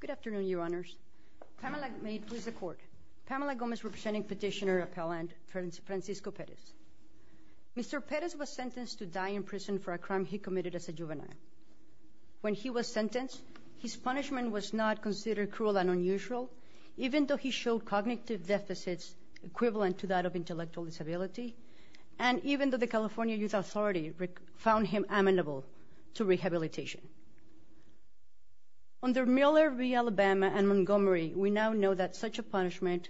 Good afternoon, Your Honors. Pamela Gomez representing Petitioner of Holland, Francisco Perez. Mr. Perez was sentenced to die in prison for a crime he committed as a juvenile. When he was sentenced, his punishment was not considered cruel and unusual, even though he showed cognitive deficits equivalent to that of intellectual disability, and even though the California Youth Authority found him amenable to rehabilitation. Under Miller v. Alabama and Montgomery, we now know that such a punishment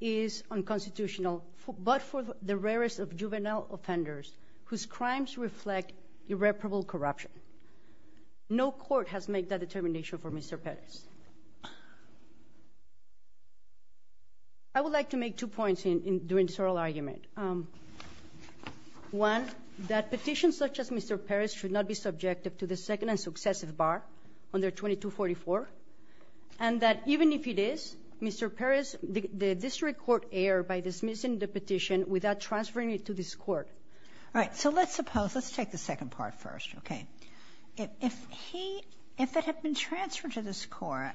is unconstitutional, but for the rarest of juvenile offenders whose crimes reflect irreparable corruption. No court has made that determination for Mr. Perez. I would like to make two points during this oral argument. One, that petitions such as Mr. Perez should not be subjective to the second and successive bar under 2244, and that even if it is, Mr. Perez, the district court erred by dismissing the petition without transferring it to this Court. All right. So let's suppose, let's take the second part first, okay? If he, if it had been transferred to this Court,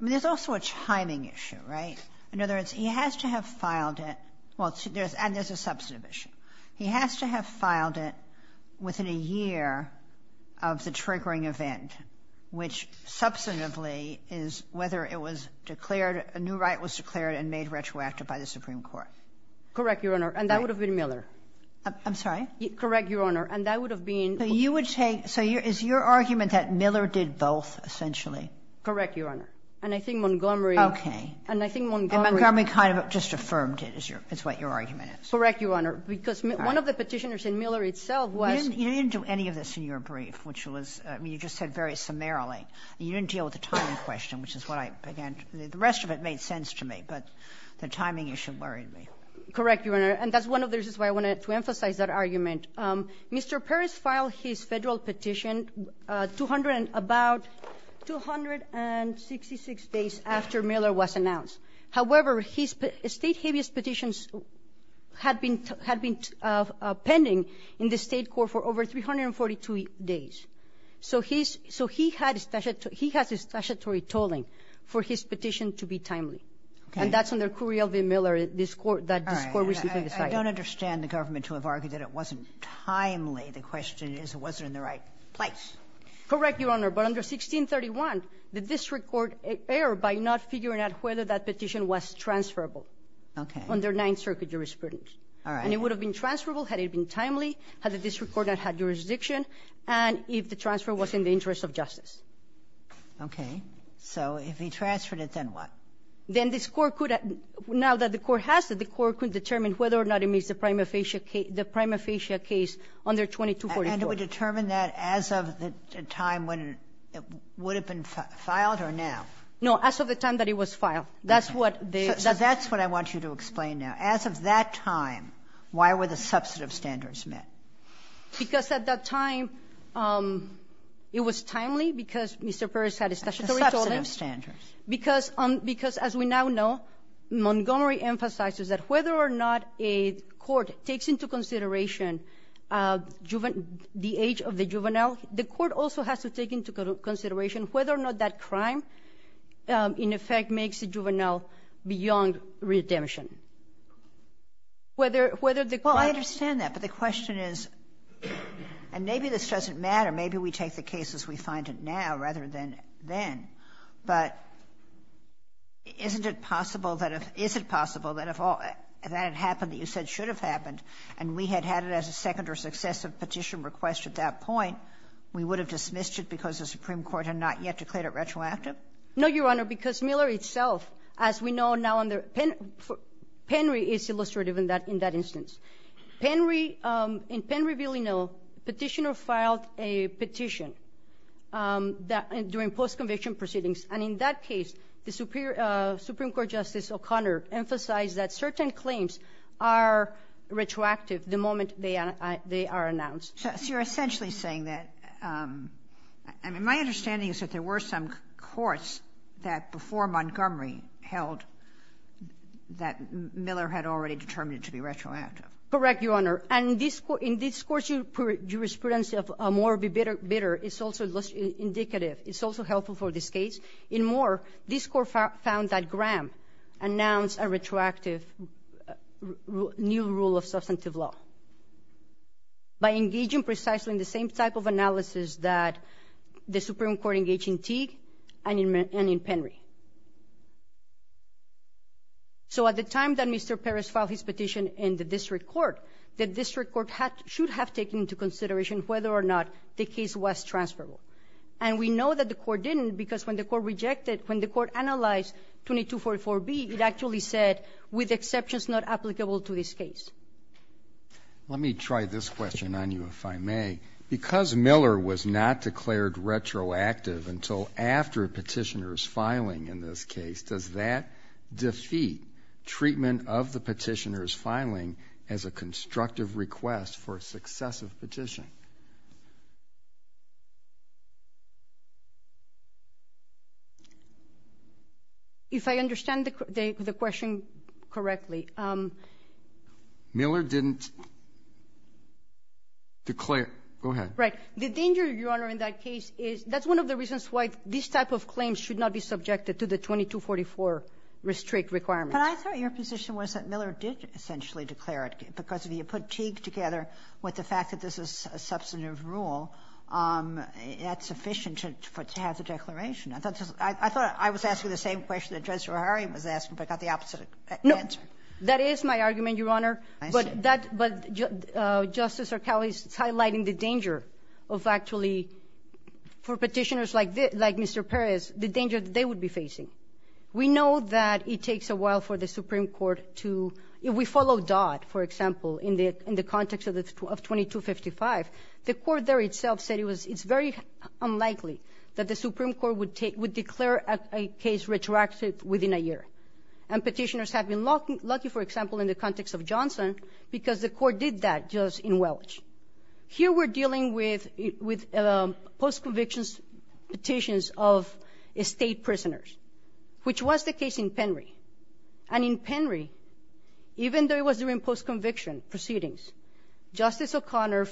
there's also a timing issue, right? In other words, he has to have filed it, well, and there's a substantive issue. He has to have filed it within a year of the triggering event, which substantively is whether it was declared, a new right was declared and made retroactive by the Supreme Court. Correct, Your Honor, and that would have been Miller. I'm sorry? Correct, Your Honor, and that would have been... So you would take, so is your argument that Miller did both, essentially? Correct, Your Honor. And I think Montgomery... Okay. And I think Montgomery... Montgomery kind of just affirmed it is your, is what your argument is. Correct, Your Honor, because one of the Petitioners in Miller itself was... You didn't do any of this in your brief, which was, I mean, you just said very summarily. You didn't deal with the timing question, which is what I, again, the rest of it made sense to me, but the timing issue worried me. Correct, Your Honor, and that's one of the reasons why I wanted to emphasize that argument. Mr. Peres filed his Federal petition 200 and about 266 days after Miller was announced. However, his State habeas petitions had been pending in the State court for over 342 days. So he's, so he had statutory tolling for his petition to be timely. Okay. And that's under Curiel v. Miller that this Court recently decided. I don't understand the government to have argued that it wasn't timely. The question is, was it in the right place? Correct, Your Honor. But under 1631, the district court erred by not figuring out whether that petition was transferable. Okay. Under Ninth Circuit jurisprudence. All right. And it would have been transferable had it been timely, had the district court not had jurisdiction, and if the transfer was in the interest of justice. Okay. So if he transferred it, then what? Then this Court could have, now that the Court has it, the Court could determine whether or not it meets the prima facie case, the prima facie case under 2244. And it would determine that as of the time when it would have been filed or now? No, as of the time that it was filed. That's what the. So that's what I want you to explain now. As of that time, why were the substantive standards met? Because at that time, it was timely because Mr. Peres had a statutory tolling. Substantive standards. Because as we now know, Montgomery emphasizes that whether or not a court takes into consideration the age of the juvenile, the court also has to take into consideration whether or not that crime, in effect, makes the juvenile beyond redemption. Whether the. Well, I understand that. But the question is, and maybe this doesn't matter. Maybe we take the case as we find it now rather than then. But isn't it possible that if that had happened that you said should have happened and we had had it as a second or successive petition request at that point, we would have dismissed it because the Supreme Court had not yet declared it retroactive? No, Your Honor, because Miller itself, as we know now, Penry is illustrative in that instance. In Penry-Villanueva, petitioner filed a petition during post-conviction proceedings. And in that case, the Supreme Court Justice O'Connor emphasized that certain claims are retroactive the moment they are announced. So you're essentially saying that. My understanding is that there were some courts that before Montgomery held that Miller had already determined to be retroactive. Correct, Your Honor. And in this court's jurisprudence of more be bitter is also indicative. It's also helpful for this case. In Moore, this court found that Graham announced a retroactive new rule of substantive law by engaging precisely in the same type of analysis that the Supreme Court engaged in Teague and in Penry. So at the time that Mr. Perez filed his petition in the district court, the district court should have taken into consideration whether or not the case was transferable. And we know that the court didn't because when the court rejected, when the court analyzed 2244B, it actually said, with exceptions not applicable to this case. Let me try this question on you, if I may. Because Miller was not declared retroactive until after a petitioner's filing in this case, does that defeat treatment of the petitioner's filing as a constructive request for a successive petition? If I understand the question correctly, Miller didn't declare go ahead. Right. The danger, Your Honor, in that case is that's one of the reasons why this type of claim should not be subjected to the 2244 restrict requirement. But I thought your position was that Miller did essentially declare it because if you put Teague together with the fact that this is a substantive rule, that's sufficient to have the declaration. I thought I was asking the same question that Judge Zerhari was asking, but I got the opposite answer. No. That is my argument, Your Honor. I see. But Justice Sercali is highlighting the danger of actually, for petitioners like Mr. Perez, the danger that they would be facing. We know that it takes a while for the Supreme Court to, if we follow Dodd, for example, in the context of 2255, the court there itself said it's very unlikely that the Supreme Court would declare a case retroactive within a year. And petitioners have been lucky, for example, in the context of Johnson because the court did that just in Welch. Here we're dealing with post-conviction petitions of state prisoners, which was the case in Penry. And in Penry, even though it was during post-conviction proceedings, Justice O'Connor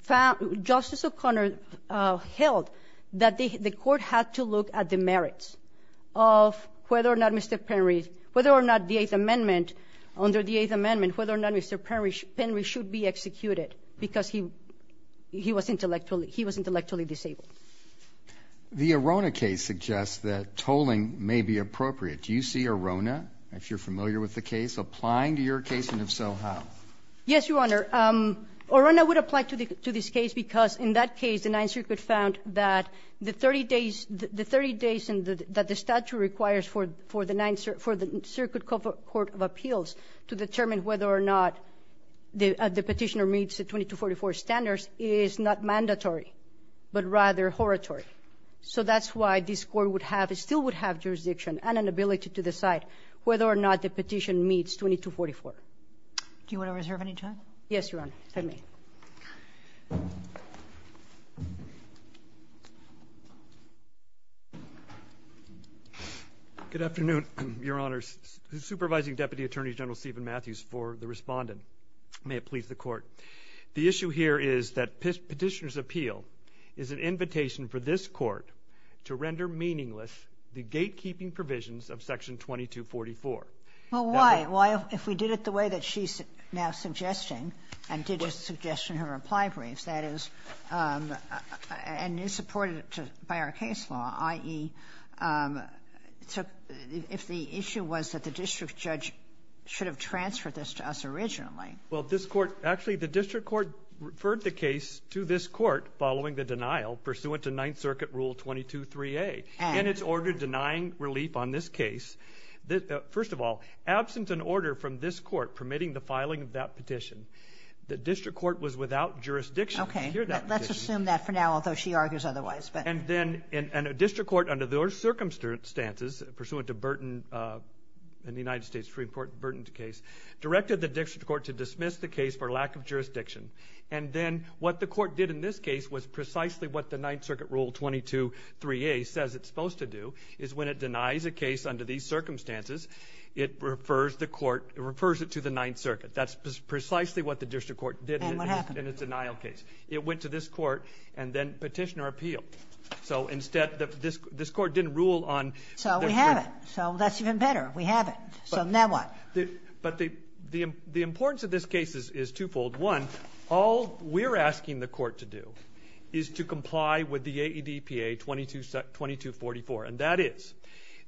found — Justice O'Connor held that the court had to look at the merits of whether or not Mr. Penry — whether or not the Eighth Amendment, under the Eighth Amendment, whether or not Mr. Penry should be executed because he was intellectually disabled. The Arona case suggests that tolling may be appropriate. Do you see Arona, if you're familiar with the case, applying to your case? And if so, how? Yes, Your Honor. Arona would apply to this case because in that case, the Ninth Circuit found that the 30 days — the 30 days that the statute requires for the Ninth — for the Circuit Court of Appeals to determine whether or not the petitioner meets the 2244 standards is not mandatory, but rather horritory. So that's why this Court would have — still would have jurisdiction and an ability to decide whether or not the petition meets 2244. Do you want to reserve any time? Yes, Your Honor, if I may. Good afternoon, Your Honors. Supervising Deputy Attorney General Stephen Matthews for the Respondent. May it please the Court. The issue here is that Petitioner's appeal is an invitation for this Court to render meaningless the gatekeeping provisions of Section 2244. Well, why? If we did it the way that she's now suggesting and did just suggest in her reply briefs, that is — and is supported by our case law, i.e., if the issue was that the district judge should have transferred this to us originally. Well, this Court — actually, the district court referred the case to this court following the denial pursuant to Ninth Circuit Rule 22-3A. And? And it's ordered denying relief on this case. First of all, absent an order from this court permitting the filing of that petition, the district court was without jurisdiction to hear that petition. Okay. Let's assume that for now, although she argues otherwise. And then — and a district court under those circumstances, pursuant to Burton and the United States Supreme Court's Burton case, directed the district court to dismiss the case for lack of jurisdiction. And then what the court did in this case was precisely what the Ninth Circuit Rule 22-3A says it's supposed to do, is when it denies a case under these circumstances, it refers the court — it refers it to the Ninth Circuit. That's precisely what the district court did in its denial case. And what happened? It went to this court and then petitioner appealed. So instead, this court didn't rule on — So we have it. So that's even better. We have it. So now what? But the importance of this case is twofold. One, all we're asking the court to do is to comply with the AEDPA 2244. And that is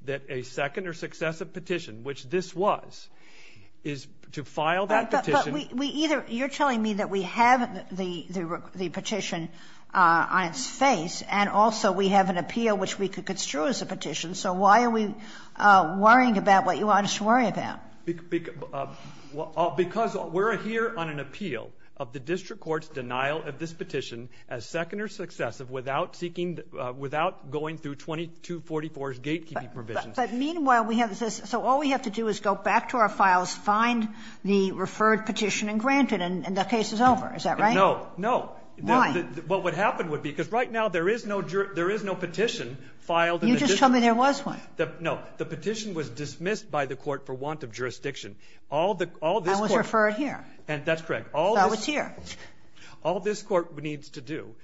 that a second or successive petition, which this was, is to file that petition. But we either — you're telling me that we have the petition on its face, and also we have an appeal which we could construe as a petition. So why are we worrying about what you want us to worry about? Because we're here on an appeal of the district court's denial of this petition as second or successive without seeking — without going through 2244's gatekeeping provisions. But meanwhile, we have this — so all we have to do is go back to our files, find the referred petition and grant it, and the case is over. Is that right? No. No. Why? What would happen would be — because right now there is no — there is no petition filed in the district court. You just told me there was one. No. The petition was dismissed by the court for want of jurisdiction. All this court — That was referred here. That's correct. So it was here. All this court needs to do,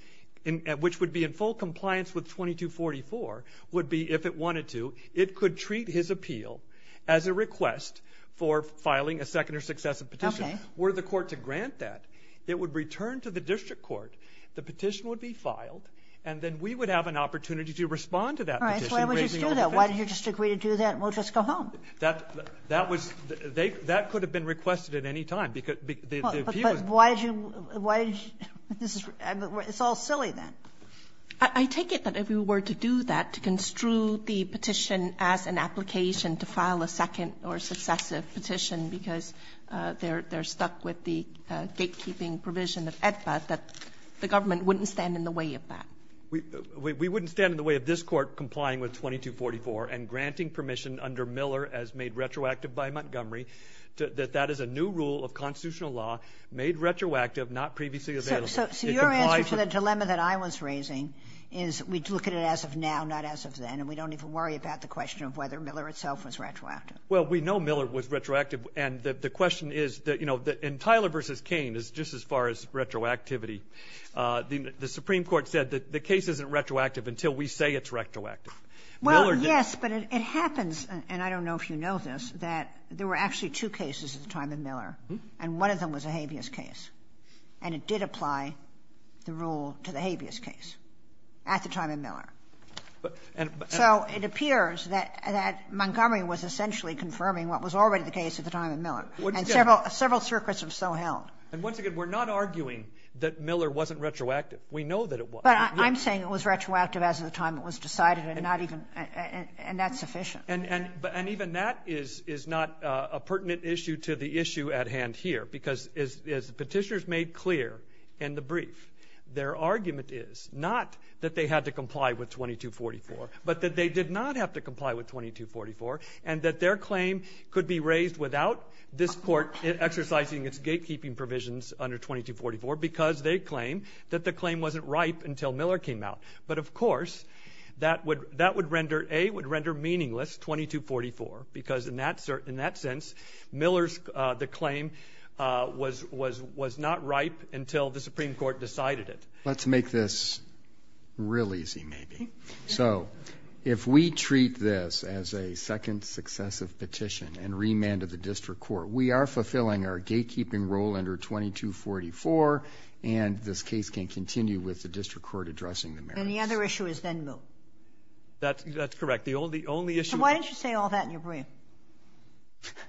which would be in full compliance with 2244, would be, if it wanted to, it could treat his appeal as a request for filing a second or successive petition were the court to grant that. It would return to the district court. The petition would be filed. And then we would have an opportunity to respond to that petition. All right. So why did you just do that? Why did your district agree to do that and we'll just go home? That was — that could have been requested at any time. But why did you — why did you — it's all silly then. I take it that if we were to do that, to construe the petition as an application to file a second or successive petition because they're stuck with the gatekeeping provision of AEDPA, that the government wouldn't stand in the way of that. We wouldn't stand in the way of this court complying with 2244 and granting permission under Miller as made retroactive by Montgomery that that is a new rule of constitutional law made retroactive, not previously available. So your answer to the dilemma that I was raising is we'd look at it as of now, not as of then, and we don't even worry about the question of whether Miller itself was retroactive. Well, we know Miller was retroactive. And the question is, you know, in Tyler v. Cain, just as far as retroactivity, the Supreme Court said that the case isn't retroactive until we say it's retroactive. Well, yes, but it happens, and I don't know if you know this, that there were actually two cases at the time of Miller, and one of them was a habeas case. And it did apply the rule to the habeas case at the time of Miller. So it appears that Montgomery was essentially confirming what was already the case at the time of Miller. And several circuits have so held. And once again, we're not arguing that Miller wasn't retroactive. We know that it was. But I'm saying it was retroactive as of the time it was decided, and not even ñ and that's sufficient. And even that is not a pertinent issue to the issue at hand here, because as the Petitioners made clear in the brief, their argument is not that they had to comply with 2244, but that they did not have to comply with 2244, and that their claim could be raised without this court exercising its gatekeeping provisions under 2244, because they claim that the claim wasn't ripe until Miller came out. But, of course, that would render ñ A, would render meaningless 2244, because in that sense, Miller's claim was not ripe until the Supreme Court decided it. Let's make this real easy, maybe. So if we treat this as a second successive petition and remand of the district court, we are fulfilling our gatekeeping role under 2244, and this case can continue with the district court addressing the merits. And the other issue is then Miller. That's correct. The only issue ñ So why didn't you say all that in your brief?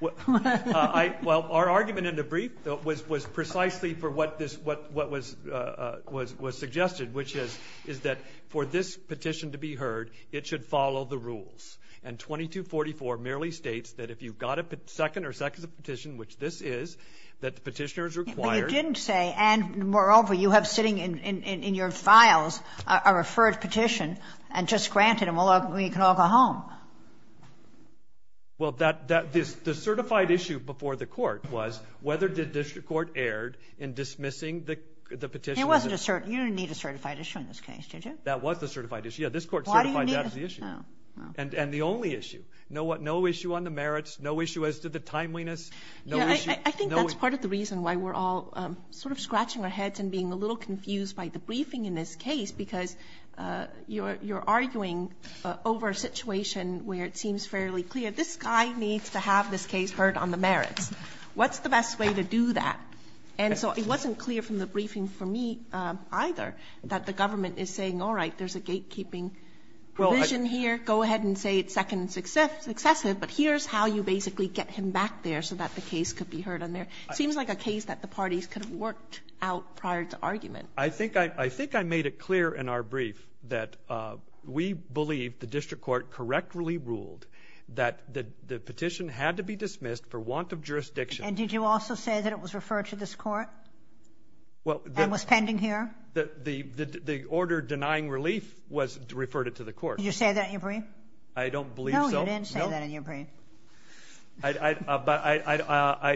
Well, our argument in the brief was precisely for what this ñ what was suggested, which is that for this petition to be heard, it should follow the rules. And 2244 merely states that if you've got a second or successive petition, which this is, that the petitioner is required. But you didn't say, and moreover, you have sitting in your files a referred petition and just granted them, and we can all go home. Well, that ñ the certified issue before the court was whether the district court erred in dismissing the petition. You didn't need a certified issue in this case, did you? That was the certified issue. Yeah, this court certified that as the issue. And the only issue, no issue on the merits, no issue as to the timeliness. I think that's part of the reason why we're all sort of scratching our heads and being a little confused by the briefing in this case, because you're arguing over a situation where it seems fairly clear, this guy needs to have this case heard on the merits. What's the best way to do that? And so it wasn't clear from the briefing for me either that the government is saying, all right, there's a gatekeeping provision here, go ahead and say it's second and successive, but here's how you basically get him back there so that the case could be heard on there. It seems like a case that the parties could have worked out prior to argument. I think I made it clear in our brief that we believe the district court correctly ruled that the petition had to be dismissed for want of jurisdiction. And did you also say that it was referred to this court and was pending here? The order denying relief referred it to the court. Did you say that in your brief? I don't believe so. No, you didn't say that in your brief. I'm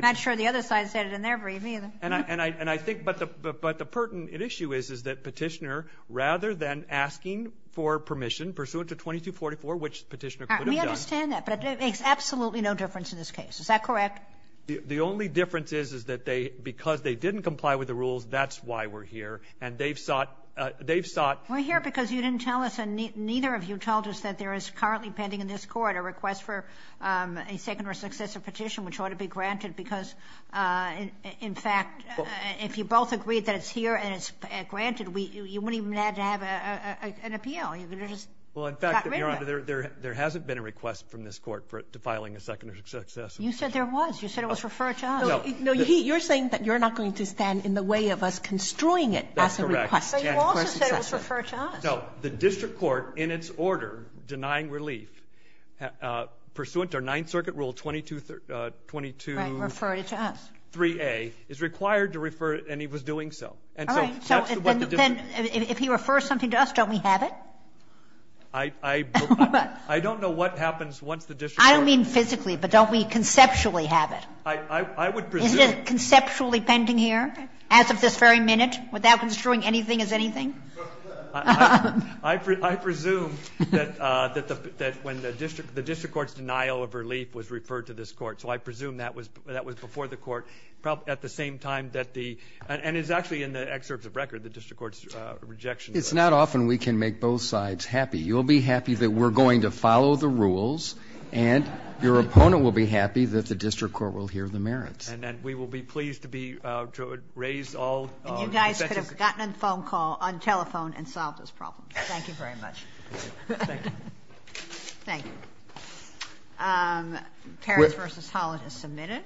not sure the other side said it in their brief either. But the pertinent issue is that Petitioner, rather than asking for permission pursuant to 2244, which Petitioner could have done. We understand that, but it makes absolutely no difference in this case. Is that correct? The only difference is, is that they, because they didn't comply with the rules, that's why we're here. And they've sought, they've sought. We're here because you didn't tell us and neither of you told us that there is currently pending in this court a request for a second or successive petition which ought to be granted because, in fact, if you both agreed that it's here and it's granted, you wouldn't even have to have an appeal. You could have just gotten rid of it. Well, in fact, Your Honor, there hasn't been a request from this court to filing a second or successive petition. You said there was. You said it was referred to us. No. You're saying that you're not going to stand in the way of us constroying it as a request. That's correct. But you also said it was referred to us. No. The district court, in its order denying relief, pursuant to our Ninth Circuit Rule 223A, is required to refer, and he was doing so. All right. I don't know what happens once the district court. I don't mean physically, but don't we conceptually have it? I would presume. Isn't it conceptually pending here, as of this very minute, without construing anything as anything? I presume that when the district court's denial of relief was referred to this court. So I presume that was before the court at the same time that the – and it's actually in the excerpts of record, the district court's rejection. It's not often we can make both sides happy. You'll be happy that we're going to follow the rules, and your opponent will be happy that the district court will hear the merits. And that we will be pleased to be – to raise all – And you guys could have gotten on the phone call – on telephone and solved this problem. Thank you very much. Thank you. Thank you. Thank you. Paris v. Holland has submitted.